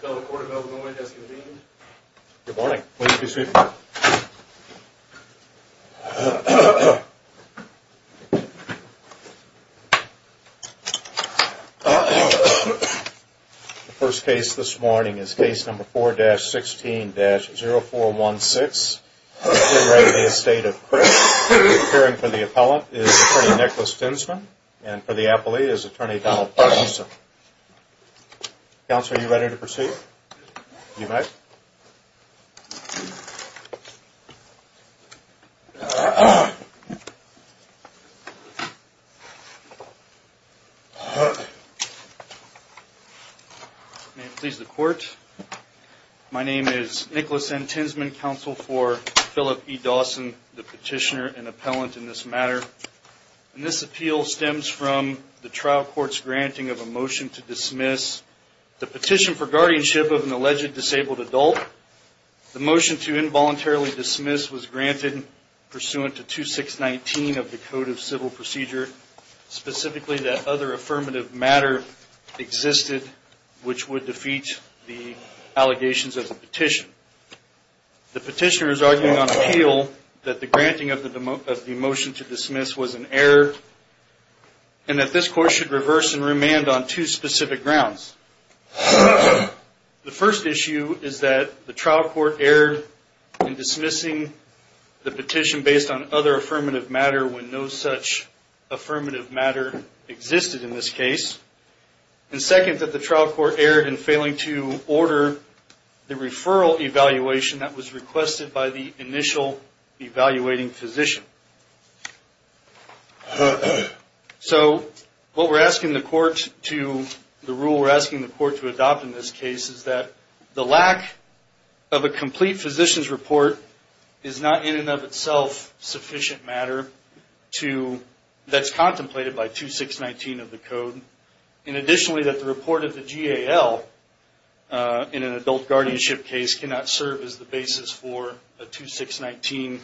The court of Illinois has convened. Good morning. Please be seated. The first case this morning is case number 4-16-0416. We're at the Estate of Krik. Appearing for the appellant is attorney Nicholas Tinsman. And for the appellee is attorney Donald Parkinson. Counsel, are you ready to proceed? You may. May it please the court. My name is Nicholas N. Tinsman, counsel for Philip E. Dawson, the petitioner and appellant in this matter. And this appeal stems from the trial court's granting of a motion to dismiss the petition for guardianship of an alleged disabled adult. The motion to involuntarily dismiss was granted pursuant to 2619 of the Code of Civil Procedure, specifically that other affirmative matter existed which would defeat the allegations of the petition. The petitioner is arguing on appeal that the granting of the motion to dismiss was an error and that this court should reverse and remand on two specific grounds. The first issue is that the trial court erred in dismissing the petition based on other affirmative matter when no such affirmative matter existed in this case. And second, that the trial court erred in failing to order the referral evaluation that was requested by the initial evaluating physician. So what we're asking the court to, the rule we're asking the court to adopt in this case, is that the lack of a complete physician's report is not in and of itself sufficient matter that's contemplated by 2619 of the Code. And additionally, that the report of the GAL in an adult guardianship case cannot serve as the basis for a 2619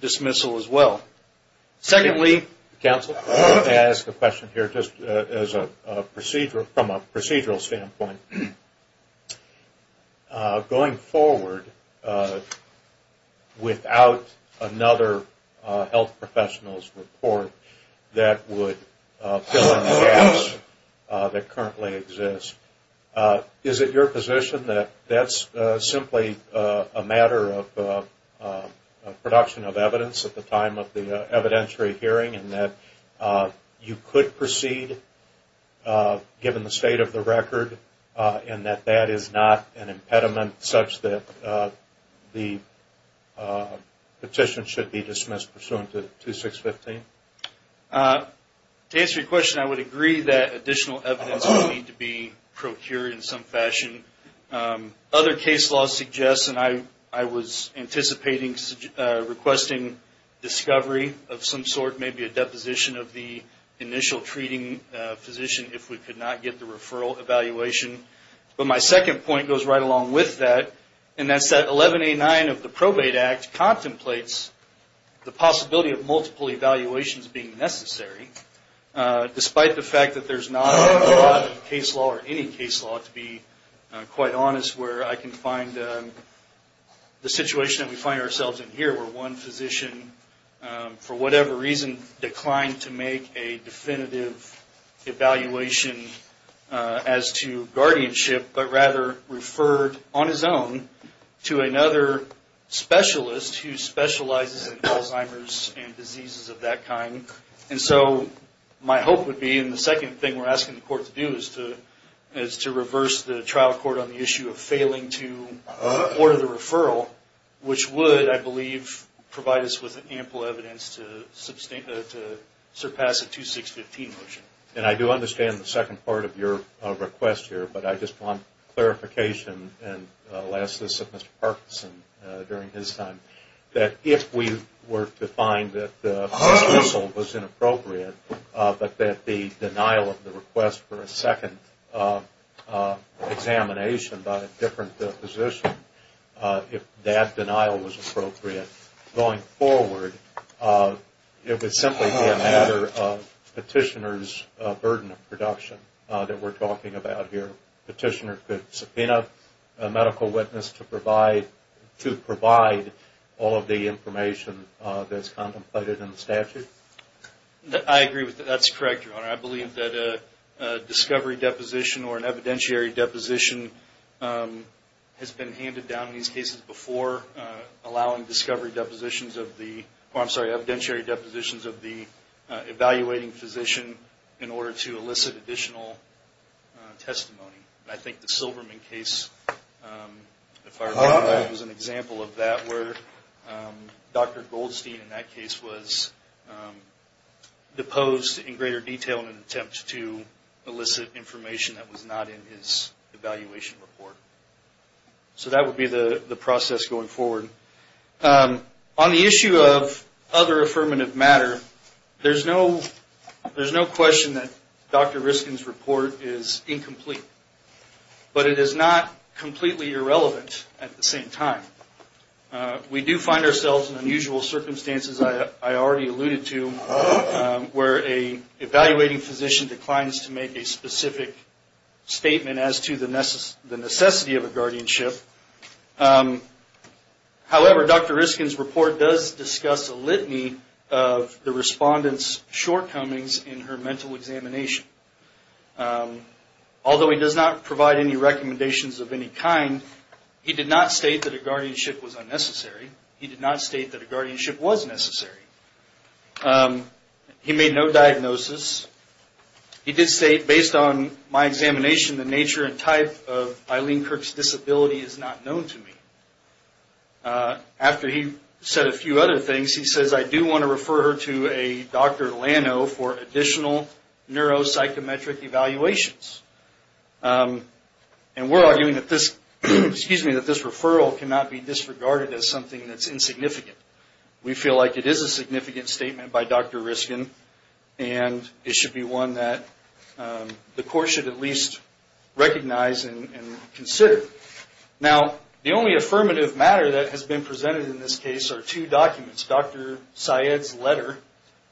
dismissal as well. Secondly... health professionals report that would fill in the gaps that currently exist. Is it your position that that's simply a matter of production of evidence at the time of the evidentiary hearing and that you could proceed given the state of the record and that that is not an impediment such that the petition should be dismissed pursuant to 2615? To answer your question, I would agree that additional evidence would need to be procured in some fashion. Other case law suggests, and I was anticipating requesting discovery of some sort, maybe a deposition of the initial treating physician if we could not get the referral evaluation. But my second point goes right along with that. And that's that 1189 of the Probate Act contemplates the possibility of multiple evaluations being necessary, despite the fact that there's not a lot of case law or any case law, to be quite honest, where I can find the situation that we find ourselves in here where one physician, for whatever reason, declined to make a definitive evaluation as to guardianship, but rather referred on his own to another specialist who specializes in Alzheimer's and diseases of that kind. And so my hope would be, and the second thing we're asking the court to do, is to reverse the trial court on the issue of failing to order the referral, which would, I believe, provide us with ample evidence to surpass a 2615 motion. And I do understand the second part of your request here, but I just want clarification, and I'll ask this of Mr. Parkinson during his time, that if we were to find that the dismissal was inappropriate, but that the denial of the request for a second examination by a different physician, if that denial was appropriate, going forward, it would simply be a matter of petitioner's burden of production that we're talking about here. Petitioner could subpoena a medical witness to provide all of the information that's contemplated in the statute? I agree with that. That's correct, Your Honor. I believe that a discovery deposition or an evidentiary deposition has been handed down in these cases before allowing discovery depositions of the, or I'm sorry, evidentiary depositions of the evaluating physician in order to elicit additional testimony. I think the Silverman case, if I recall right, was an example of that, where Dr. Goldstein in that case was deposed in greater detail in an attempt to elicit information that was not in his evaluation report. So that would be the process going forward. On the issue of other affirmative matter, there's no question that Dr. Riskin's report is incomplete, but it is not completely irrelevant at the same time. We do find ourselves in unusual circumstances, I already alluded to, where an evaluating physician declines to make a specific statement as to the necessity of a guardianship. However, Dr. Riskin's report does discuss a litany of the respondent's shortcomings in her mental examination. Although he does not provide any recommendations of any kind, he did not state that a guardianship was unnecessary. He did not state that a guardianship was necessary. He made no diagnosis. He did state, based on my examination, the nature and type of Eileen Kirk's disability is not known to me. After he said a few other things, he says, I do want to refer her to a Dr. Lano for additional neuropsychometric evaluations. And we're arguing that this referral cannot be disregarded as something that's insignificant. We feel like it is a significant statement by Dr. Riskin, and it should be one that the court should at least recognize and consider. Now, the only affirmative matter that has been presented in this case are two documents, Dr. Syed's letter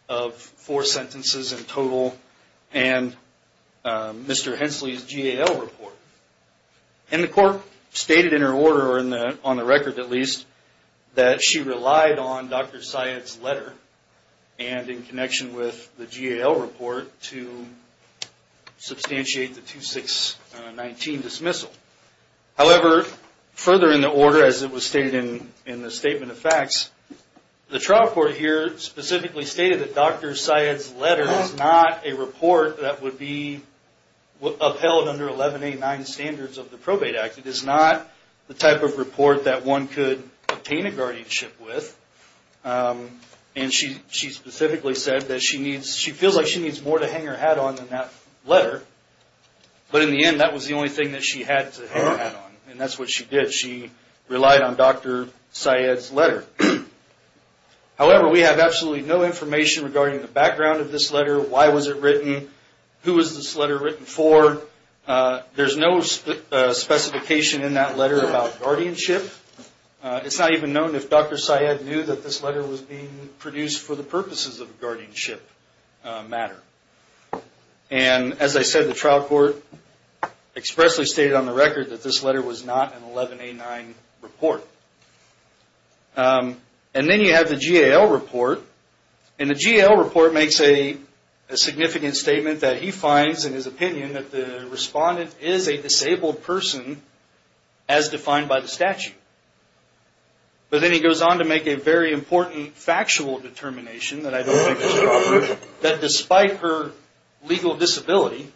of four sentences in total and Mr. Hensley's GAL report. And the court stated in her order, or on the record at least, that she relied on Dr. Syed's letter and in connection with the GAL report to substantiate the 2619 dismissal. However, further in the order, as it was stated in the statement of facts, the trial court here specifically stated that Dr. Syed's letter is not a report that would be upheld under 1189 standards of the Probate Act. It is not the type of report that one could obtain a guardianship with. And she specifically said that she feels like she needs more to hang her hat on than that letter. But in the end, that was the only thing that she had to hang her hat on. And that's what she did. She relied on Dr. Syed's letter. However, we have absolutely no information regarding the background of this letter, why was it written, who was this letter written for. There's no specification in that letter about guardianship. It's not even known if Dr. Syed knew that this letter was being produced for the purposes of a guardianship matter. And as I said, the trial court expressly stated on the record that this letter was not an 1189 report. And then you have the GAL report. And the GAL report makes a significant statement that he finds, in his opinion, that the respondent is a disabled person as defined by the statute. But then he goes on to make a very important factual determination that I don't think is appropriate, that despite her legal disability,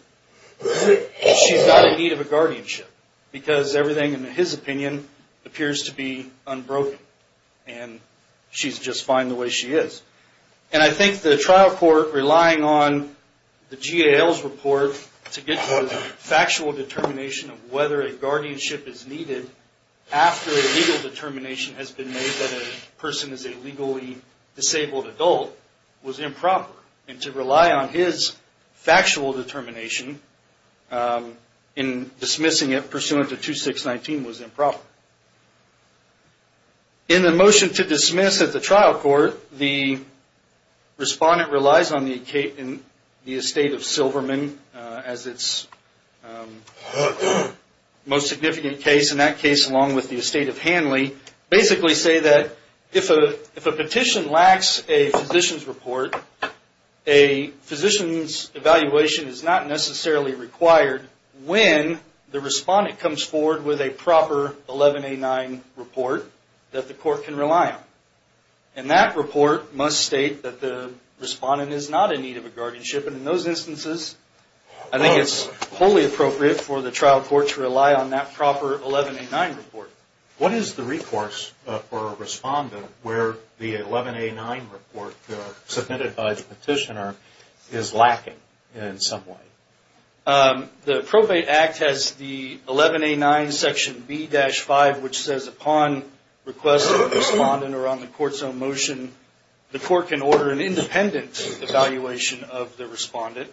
she's not in need of a guardianship. Because everything, in his opinion, appears to be unbroken. And she's just fine the way she is. And I think the trial court, relying on the GAL's report to get to a factual determination of whether a guardianship is needed after a legal determination has been made that a person is a legally disabled adult was improper. And to rely on his factual determination in dismissing it pursuant to 2619 was improper. In the motion to dismiss at the trial court, the respondent relies on the estate of Silverman as its most significant case. And that case, along with the estate of Hanley, basically say that if a petition lacks a physician's report, a physician's evaluation is not necessarily required when the respondent comes forward with a proper 1189 report that the court can rely on. And that report must state that the respondent is not in need of a guardianship. And in those instances, I think it's wholly appropriate for the trial court to rely on that proper 1189 report. What is the recourse for a respondent where the 1189 report submitted by the petitioner is lacking in some way? The Probate Act has the 1189 section B-5, which says upon request of the respondent or on the court's own motion, the court can order an independent evaluation of the respondent.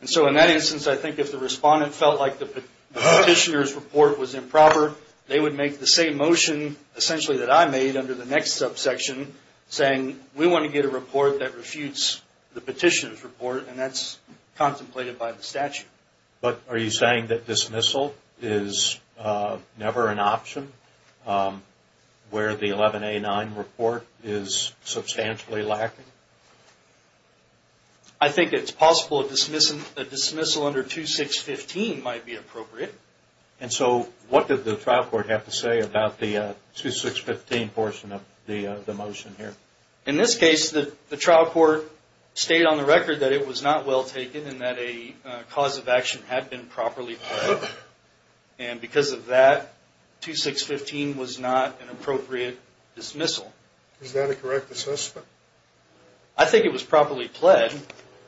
And so in that instance, I think if the respondent felt like the petitioner's report was improper, they would make the same motion essentially that I made under the next subsection, saying we want to get a report that refutes the petitioner's report, and that's contemplated by the statute. But are you saying that dismissal is never an option where the 1189 report is substantially lacking? I think it's possible a dismissal under 2615 might be appropriate. And so what did the trial court have to say about the 2615 portion of the motion here? In this case, the trial court stated on the record that it was not well taken and that a cause of action had been properly pled. And because of that, 2615 was not an appropriate dismissal. Is that a correct assessment? I think it was properly pled.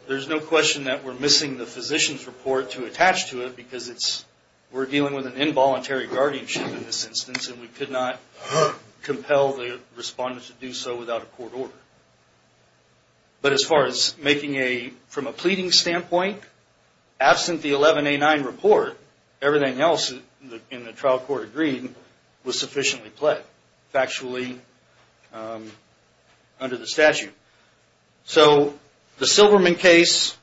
There's no question that we're missing the physician's report to attach to it because we're dealing with an involuntary guardianship in this instance, and we could not compel the respondent to do so without a court order. But as far as making a, from a pleading standpoint, absent the 1189 report, everything else in the trial court agreed was sufficiently pled factually under the statute. So the Silverman case,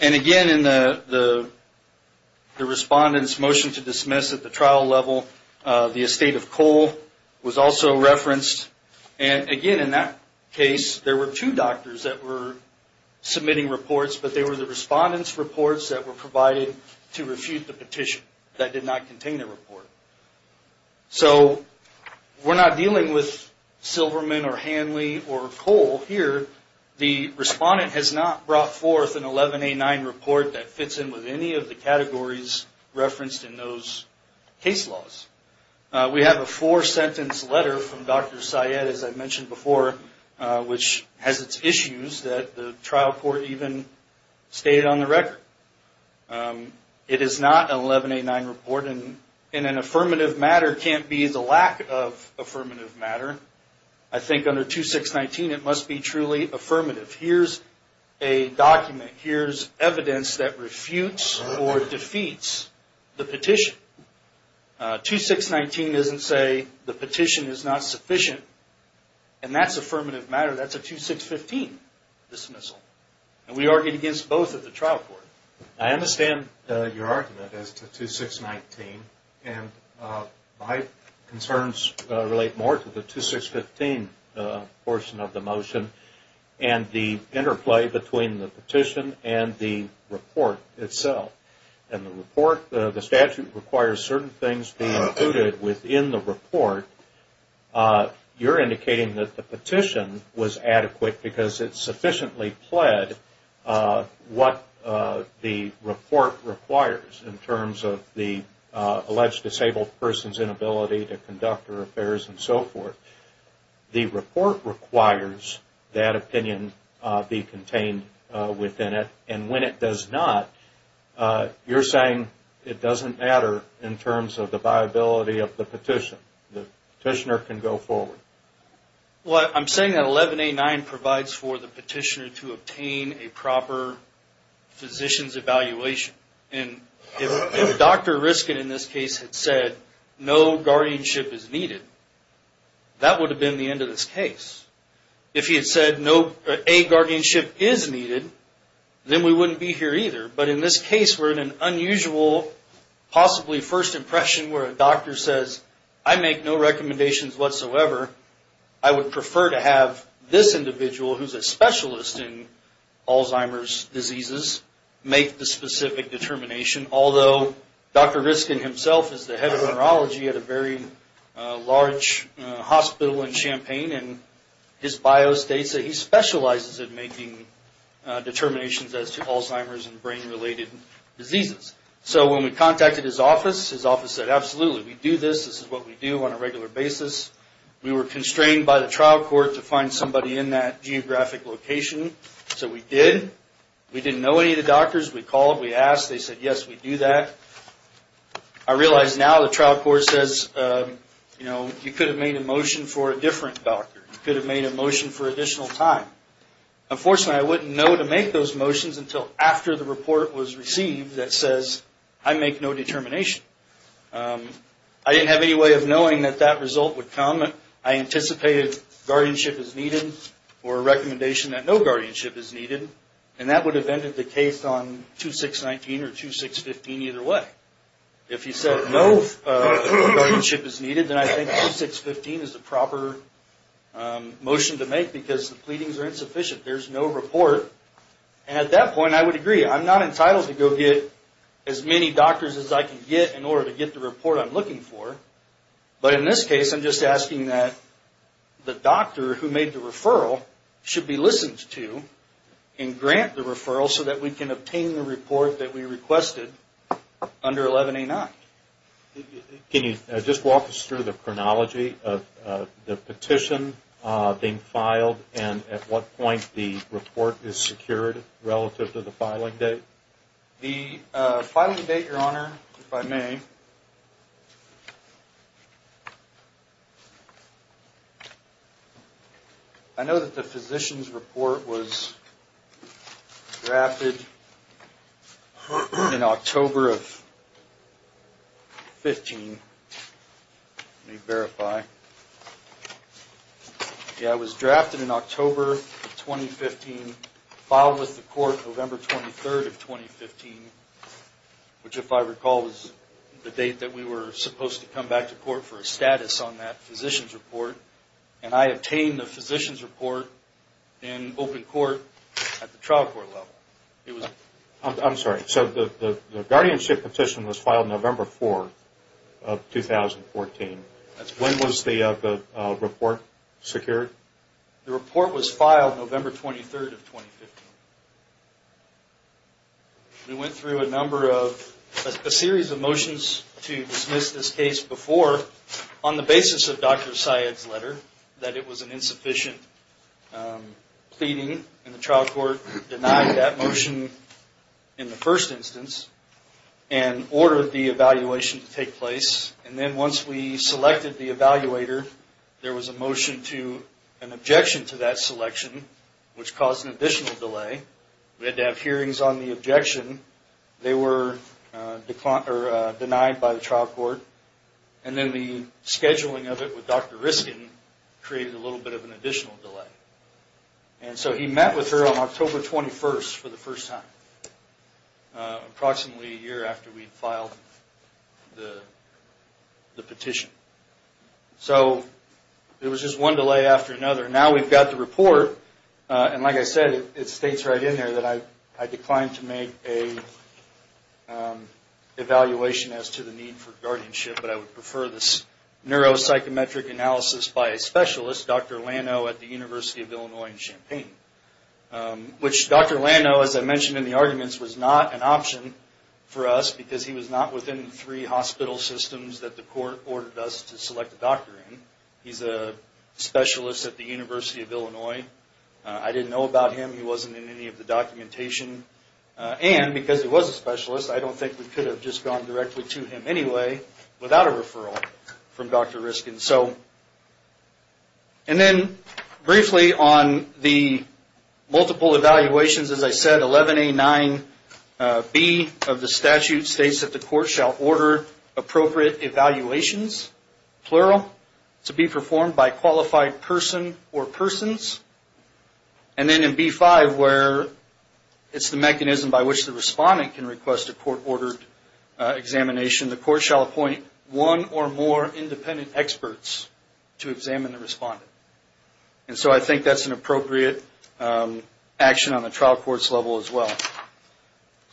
and again in the respondent's motion to dismiss at the trial level, the estate of Cole was also referenced. And again in that case, there were two doctors that were submitting reports, but they were the respondent's reports that were provided to refute the petition that did not contain a report. So we're not dealing with Silverman or Hanley or Cole here. The respondent has not brought forth an 1189 report that fits in with any of the categories referenced in those case laws. We have a four-sentence letter from Dr. Syed, as I mentioned before, which has its issues that the trial court even stated on the record. It is not an 1189 report, and an affirmative matter can't be the lack of affirmative matter. I think under 2619 it must be truly affirmative. Here's a document, here's evidence that refutes or defeats the petition. 2619 doesn't say the petition is not sufficient, and that's affirmative matter. That's a 2615 dismissal. And we argued against both at the trial court. I understand your argument as to 2619, and my concerns relate more to the 2615 portion of the motion. And the interplay between the petition and the report itself. In the report, the statute requires certain things to be included within the report. You're indicating that the petition was adequate because it sufficiently pled what the report requires in terms of the alleged disabled person's inability to conduct her affairs and so forth. The report requires that opinion be contained within it, and when it does not, you're saying it doesn't matter in terms of the viability of the petition. The petitioner can go forward. Well, I'm saying that 1189 provides for the petitioner to obtain a proper physician's evaluation. If Dr. Riskin in this case had said no guardianship is needed, that would have been the end of this case. If he had said a guardianship is needed, then we wouldn't be here either. But in this case, we're in an unusual, possibly first impression where a doctor says, I make no recommendations whatsoever. I would prefer to have this individual, who's a specialist in Alzheimer's diseases, make the specific determination. Although Dr. Riskin himself is the head of neurology at a very large hospital in Champaign, and his bio states that he specializes in making determinations as to Alzheimer's and brain-related diseases. So when we contacted his office, his office said, absolutely. We do this. This is what we do on a regular basis. We were constrained by the trial court to find somebody in that geographic location, so we did. We didn't know any of the doctors. We called. We asked. They said, yes, we do that. I realize now the trial court says, you know, you could have made a motion for a different doctor. You could have made a motion for additional time. Unfortunately, I wouldn't know to make those motions until after the report was received that says, I make no determination. I didn't have any way of knowing that that result would come. I anticipated guardianship as needed or a recommendation that no guardianship is needed, and that would have ended the case on 2619 or 2615 either way. If he said no guardianship is needed, then I think 2615 is the proper motion to make because the pleadings are insufficient. There's no report. And at that point, I would agree. I'm not entitled to go get as many doctors as I can get in order to get the report I'm looking for. But in this case, I'm just asking that the doctor who made the referral should be listened to and grant the referral so that we can obtain the report that we requested under 11A9. Can you just walk us through the chronology of the petition being filed and at what point the report is secured relative to the filing date? The filing date, Your Honor, if I may, I know that the physician's report was drafted in October of 15. Let me verify. Okay. Yeah, it was drafted in October of 2015, filed with the court November 23rd of 2015, which if I recall was the date that we were supposed to come back to court for a status on that physician's report. And I obtained the physician's report in open court at the trial court level. I'm sorry. So the guardianship petition was filed November 4th of 2014. That's correct. When was the report secured? The report was filed November 23rd of 2015. We went through a number of, a series of motions to dismiss this case before on the basis of Dr. Syed's letter that it was an insufficient pleading and the trial court denied that motion in the first instance and ordered the evaluation to take place. And then once we selected the evaluator, there was a motion to an objection to that selection, which caused an additional delay. We had to have hearings on the objection. They were denied by the trial court. And then the scheduling of it with Dr. Riskin created a little bit of an additional delay. And so he met with her on October 21st for the first time, approximately a year after we'd filed the petition. So there was just one delay after another. Now we've got the report, and like I said, it states right in there that I declined to make an evaluation as to the need for guardianship, but I would prefer this neuropsychometric analysis by a specialist, Dr. Lano at the University of Illinois in Champaign, which Dr. Lano, as I mentioned in the arguments, was not an option for us because he was not within the three hospital systems that the court ordered us to select a doctor in. He's a specialist at the University of Illinois. I didn't know about him. He wasn't in any of the documentation. And because he was a specialist, I don't think we could have just gone directly to him anyway without a referral from Dr. Riskin. And then briefly on the multiple evaluations, as I said, 11A9B of the statute states that the court shall order appropriate evaluations, plural, to be performed by qualified person or persons. And then in B5, where it's the mechanism by which the respondent can request a court-ordered examination, the court shall appoint one or more independent experts to examine the respondent. And so I think that's an appropriate action on the trial court's level as well.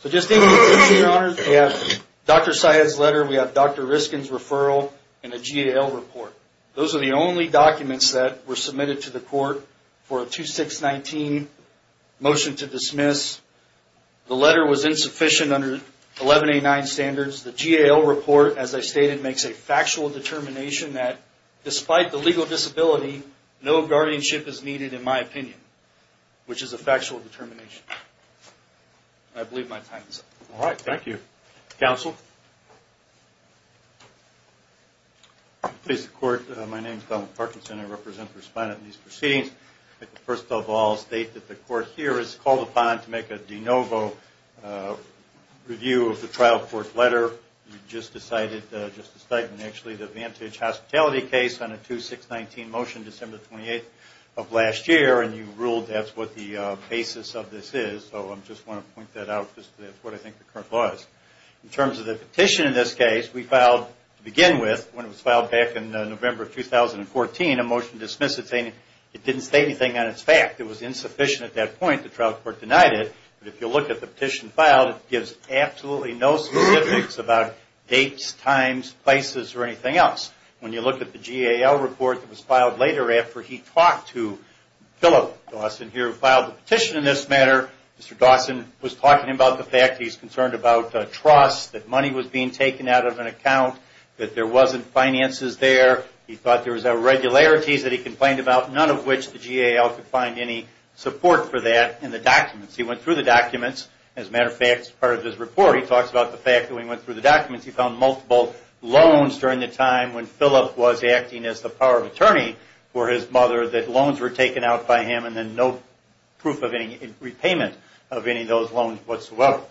So just in conclusion, Your Honors, we have Dr. Syed's letter, we have Dr. Riskin's referral, and a GAL report. Those are the only documents that were submitted to the court for a 2619 motion to dismiss. The letter was insufficient under 11A9 standards. The GAL report, as I stated, makes a factual determination that despite the legal disability, no guardianship is needed in my opinion, which is a factual determination. I believe my time is up. All right, thank you. Counsel? Please, the court. My name is Donald Parkinson. I represent the respondent in these proceedings. First of all, I'll state that the court here is called upon to make a de novo review of the trial court letter. You just decided, Justice Steigman, actually the Vantage Hospitality case on a 2619 motion December 28th of last year, and you ruled that's what the basis of this is. So I just want to point that out because that's what I think the current law is. In terms of the petition in this case, we filed, to begin with, when it was filed back in November of 2014, a motion to dismiss it saying it didn't state anything on its fact. It was insufficient at that point. The trial court denied it. But if you look at the petition filed, it gives absolutely no specifics about dates, times, places, or anything else. When you look at the GAL report that was filed later after he talked to Philip Dawson here, who filed the petition in this matter, Mr. Dawson was talking about the fact that he's concerned about trust, that money was being taken out of an account, that there wasn't finances there. He thought there was irregularities that he complained about, none of which the GAL could find any support for that in the documents. He went through the documents. As a matter of fact, as part of his report, he talks about the fact that when he went through the documents, he found multiple loans during the time when Philip was acting as the power of attorney for his mother, that loans were taken out by him and then no proof of any repayment of any of those loans whatsoever.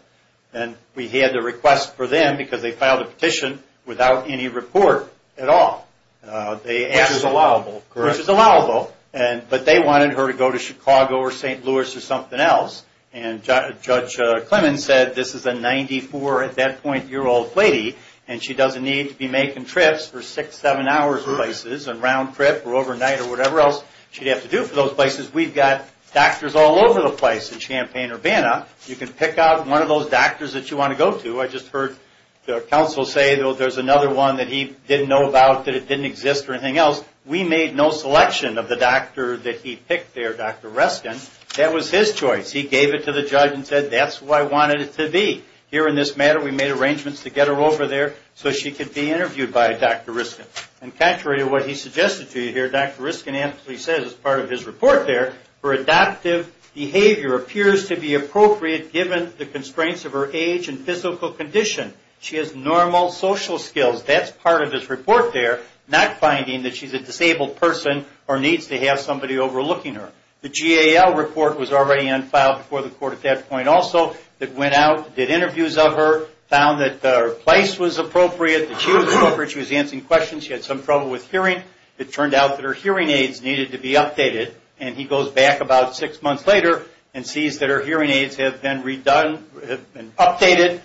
And we had to request for them because they filed a petition without any report at all. Which is allowable. Which is allowable. But they wanted her to go to Chicago or St. Louis or something else. And Judge Clemons said this is a 94-at-that-point-year-old lady, and she doesn't need to be making trips for six, seven hours places, a round trip or overnight or whatever else she'd have to do for those places. We've got doctors all over the place in Champaign-Urbana. You can pick out one of those doctors that you want to go to. I just heard the counsel say there's another one that he didn't know about, that it didn't exist or anything else. We made no selection of the doctor that he picked there, Dr. Reston. That was his choice. He gave it to the judge and said that's who I wanted it to be. Here in this matter we made arrangements to get her over there so she could be interviewed by Dr. Reston. And contrary to what he suggested to you here, Dr. Reston actually says as part of his report there, her adoptive behavior appears to be appropriate given the constraints of her age and physical condition. She has normal social skills. That's part of his report there. Not finding that she's a disabled person or needs to have somebody overlooking her. The GAL report was already on file before the court at that point also. It went out, did interviews of her, found that her place was appropriate, that she was appropriate, she was answering questions, she had some trouble with hearing. It turned out that her hearing aids needed to be updated. And he goes back about six months later and sees that her hearing aids have been updated.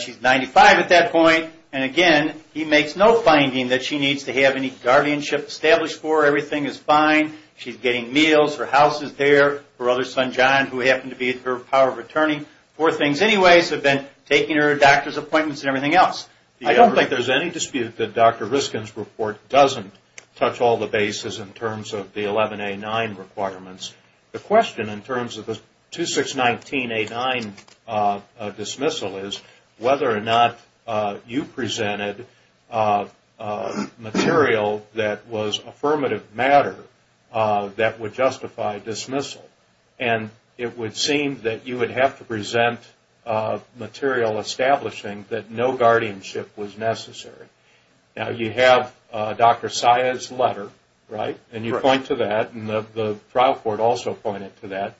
She's 95 at that point. And again, he makes no finding that she needs to have any guardianship established for her. Everything is fine. She's getting meals. Her house is there. Her other son, John, who happened to be her power of attorney. Four things anyways have been taking her to doctor's appointments and everything else. I don't think there's any dispute that Dr. Reston's report doesn't touch all the bases in terms of the 11A9 requirements. The question in terms of the 2619A9 dismissal is whether or not you presented material that was affirmative matter that would justify dismissal. And it would seem that you would have to present material establishing that no guardianship was necessary. Now, you have Dr. Sia's letter, right? And you point to that. And the trial court also pointed to that.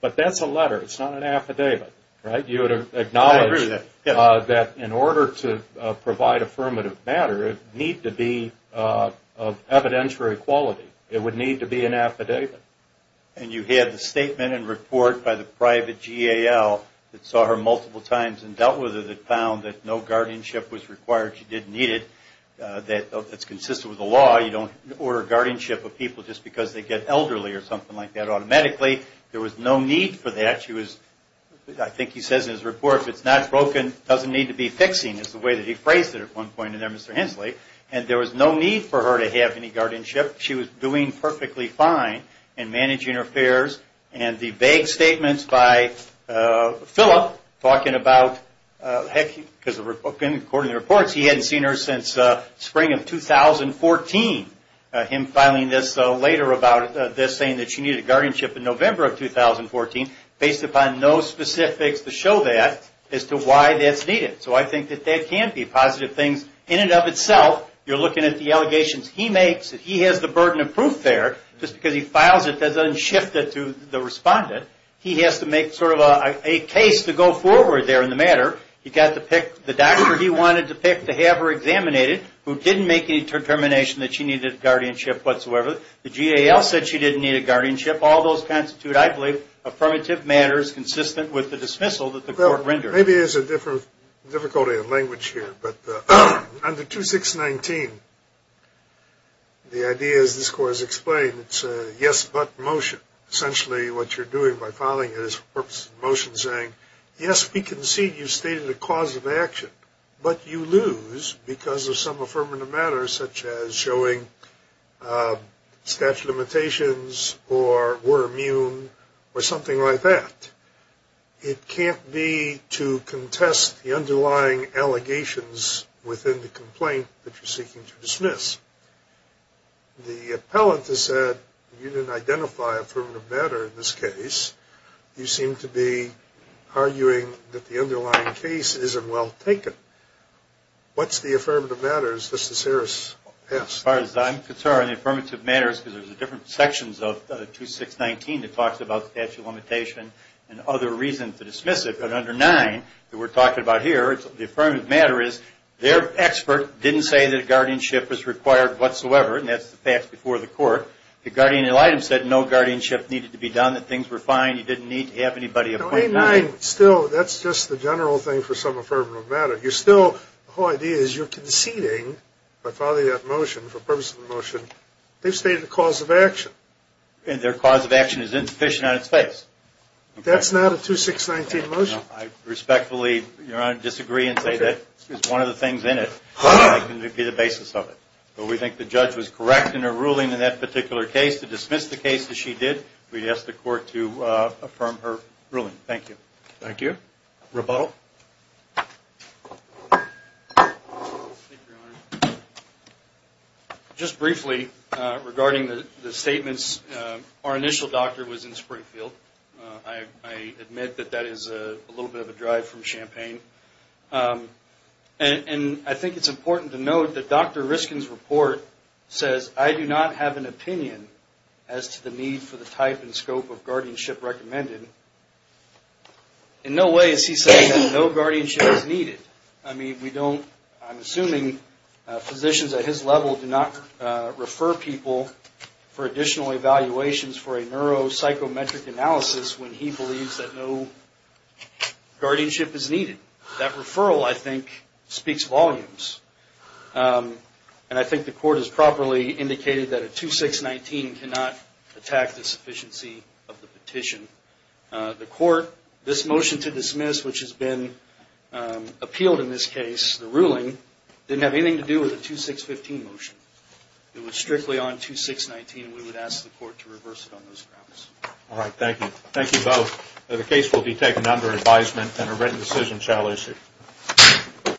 But that's a letter. It's not an affidavit, right? You would acknowledge that in order to provide affirmative matter, it needs to be of evidentiary quality. It would need to be an affidavit. And you had the statement and report by the private GAL that saw her multiple times and dealt with her that found that no guardianship was required. She didn't need it. That's consistent with the law. You don't order guardianship of people just because they get elderly or something like that automatically. There was no need for that. I think he says in his report, if it's not broken, it doesn't need to be fixing. It's the way that he phrased it at one point in there, Mr. Hensley. And there was no need for her to have any guardianship. She was doing perfectly fine in managing her affairs. And the vague statements by Philip talking about, according to the reports, he hadn't seen her since spring of 2014. Him filing this later about this, saying that she needed guardianship in November of 2014, based upon no specifics to show that as to why that's needed. So I think that that can be positive things in and of itself. You're looking at the allegations he makes. He has the burden of proof there. Just because he files it doesn't shift it to the respondent. He has to make sort of a case to go forward there in the matter. He got to pick the doctor he wanted to pick to have her examinated, who didn't make any determination that she needed guardianship whatsoever. The GAL said she didn't need a guardianship. All those constitute, I believe, affirmative matters consistent with the dismissal that the court rendered. Maybe there's a difficulty in language here. But under 2619, the idea, as this court has explained, it's a yes but motion. Essentially what you're doing by filing it is motion saying, yes, we concede you stated a cause of action, but you lose because of some affirmative matter, such as showing statute of limitations or were immune or something like that. It can't be to contest the underlying allegations within the complaint that you're seeking to dismiss. The appellant has said you didn't identify affirmative matter in this case. You seem to be arguing that the underlying case isn't well taken. What's the affirmative matter, as Justice Harris asked? As far as I'm concerned, the affirmative matter is because there's different sections of 2619 that talks about statute of limitations and other reasons to dismiss it, but under 9 that we're talking about here, the affirmative matter is their expert didn't say that guardianship was required whatsoever, and that's the facts before the court. The GAL said no guardianship needed to be done, that things were fine, you didn't need to have anybody appoint you. Still, that's just the general thing for some affirmative matter. You're still, the whole idea is you're conceding, by following that motion, for purpose of the motion, they've stated a cause of action. And their cause of action is insufficient on its face. That's not a 2619 motion. I respectfully, Your Honor, disagree and say that is one of the things in it that can be the basis of it. But we think the judge was correct in her ruling in that particular case. To dismiss the case as she did, we ask the court to affirm her ruling. Thank you. Thank you. Rebuttal. Thank you, Your Honor. Just briefly, regarding the statements, our initial doctor was in Springfield. I admit that that is a little bit of a drive from Champaign. And I think it's important to note that Dr. Riskin's report says, I do not have an opinion as to the need for the type and scope of guardianship recommended. In no way is he saying that no guardianship is needed. I mean, we don't, I'm assuming physicians at his level do not refer people for additional evaluations for a neuropsychometric analysis when he believes that no guardianship is needed. That referral, I think, speaks volumes. And I think the court has properly indicated that a 2619 cannot attack the sufficiency of the petition. The court, this motion to dismiss, which has been appealed in this case, the ruling, didn't have anything to do with the 2615 motion. It was strictly on 2619, and we would ask the court to reverse it on those grounds. All right. Thank you. Thank you both. The case will be taken under advisement, and a written decision shall issue.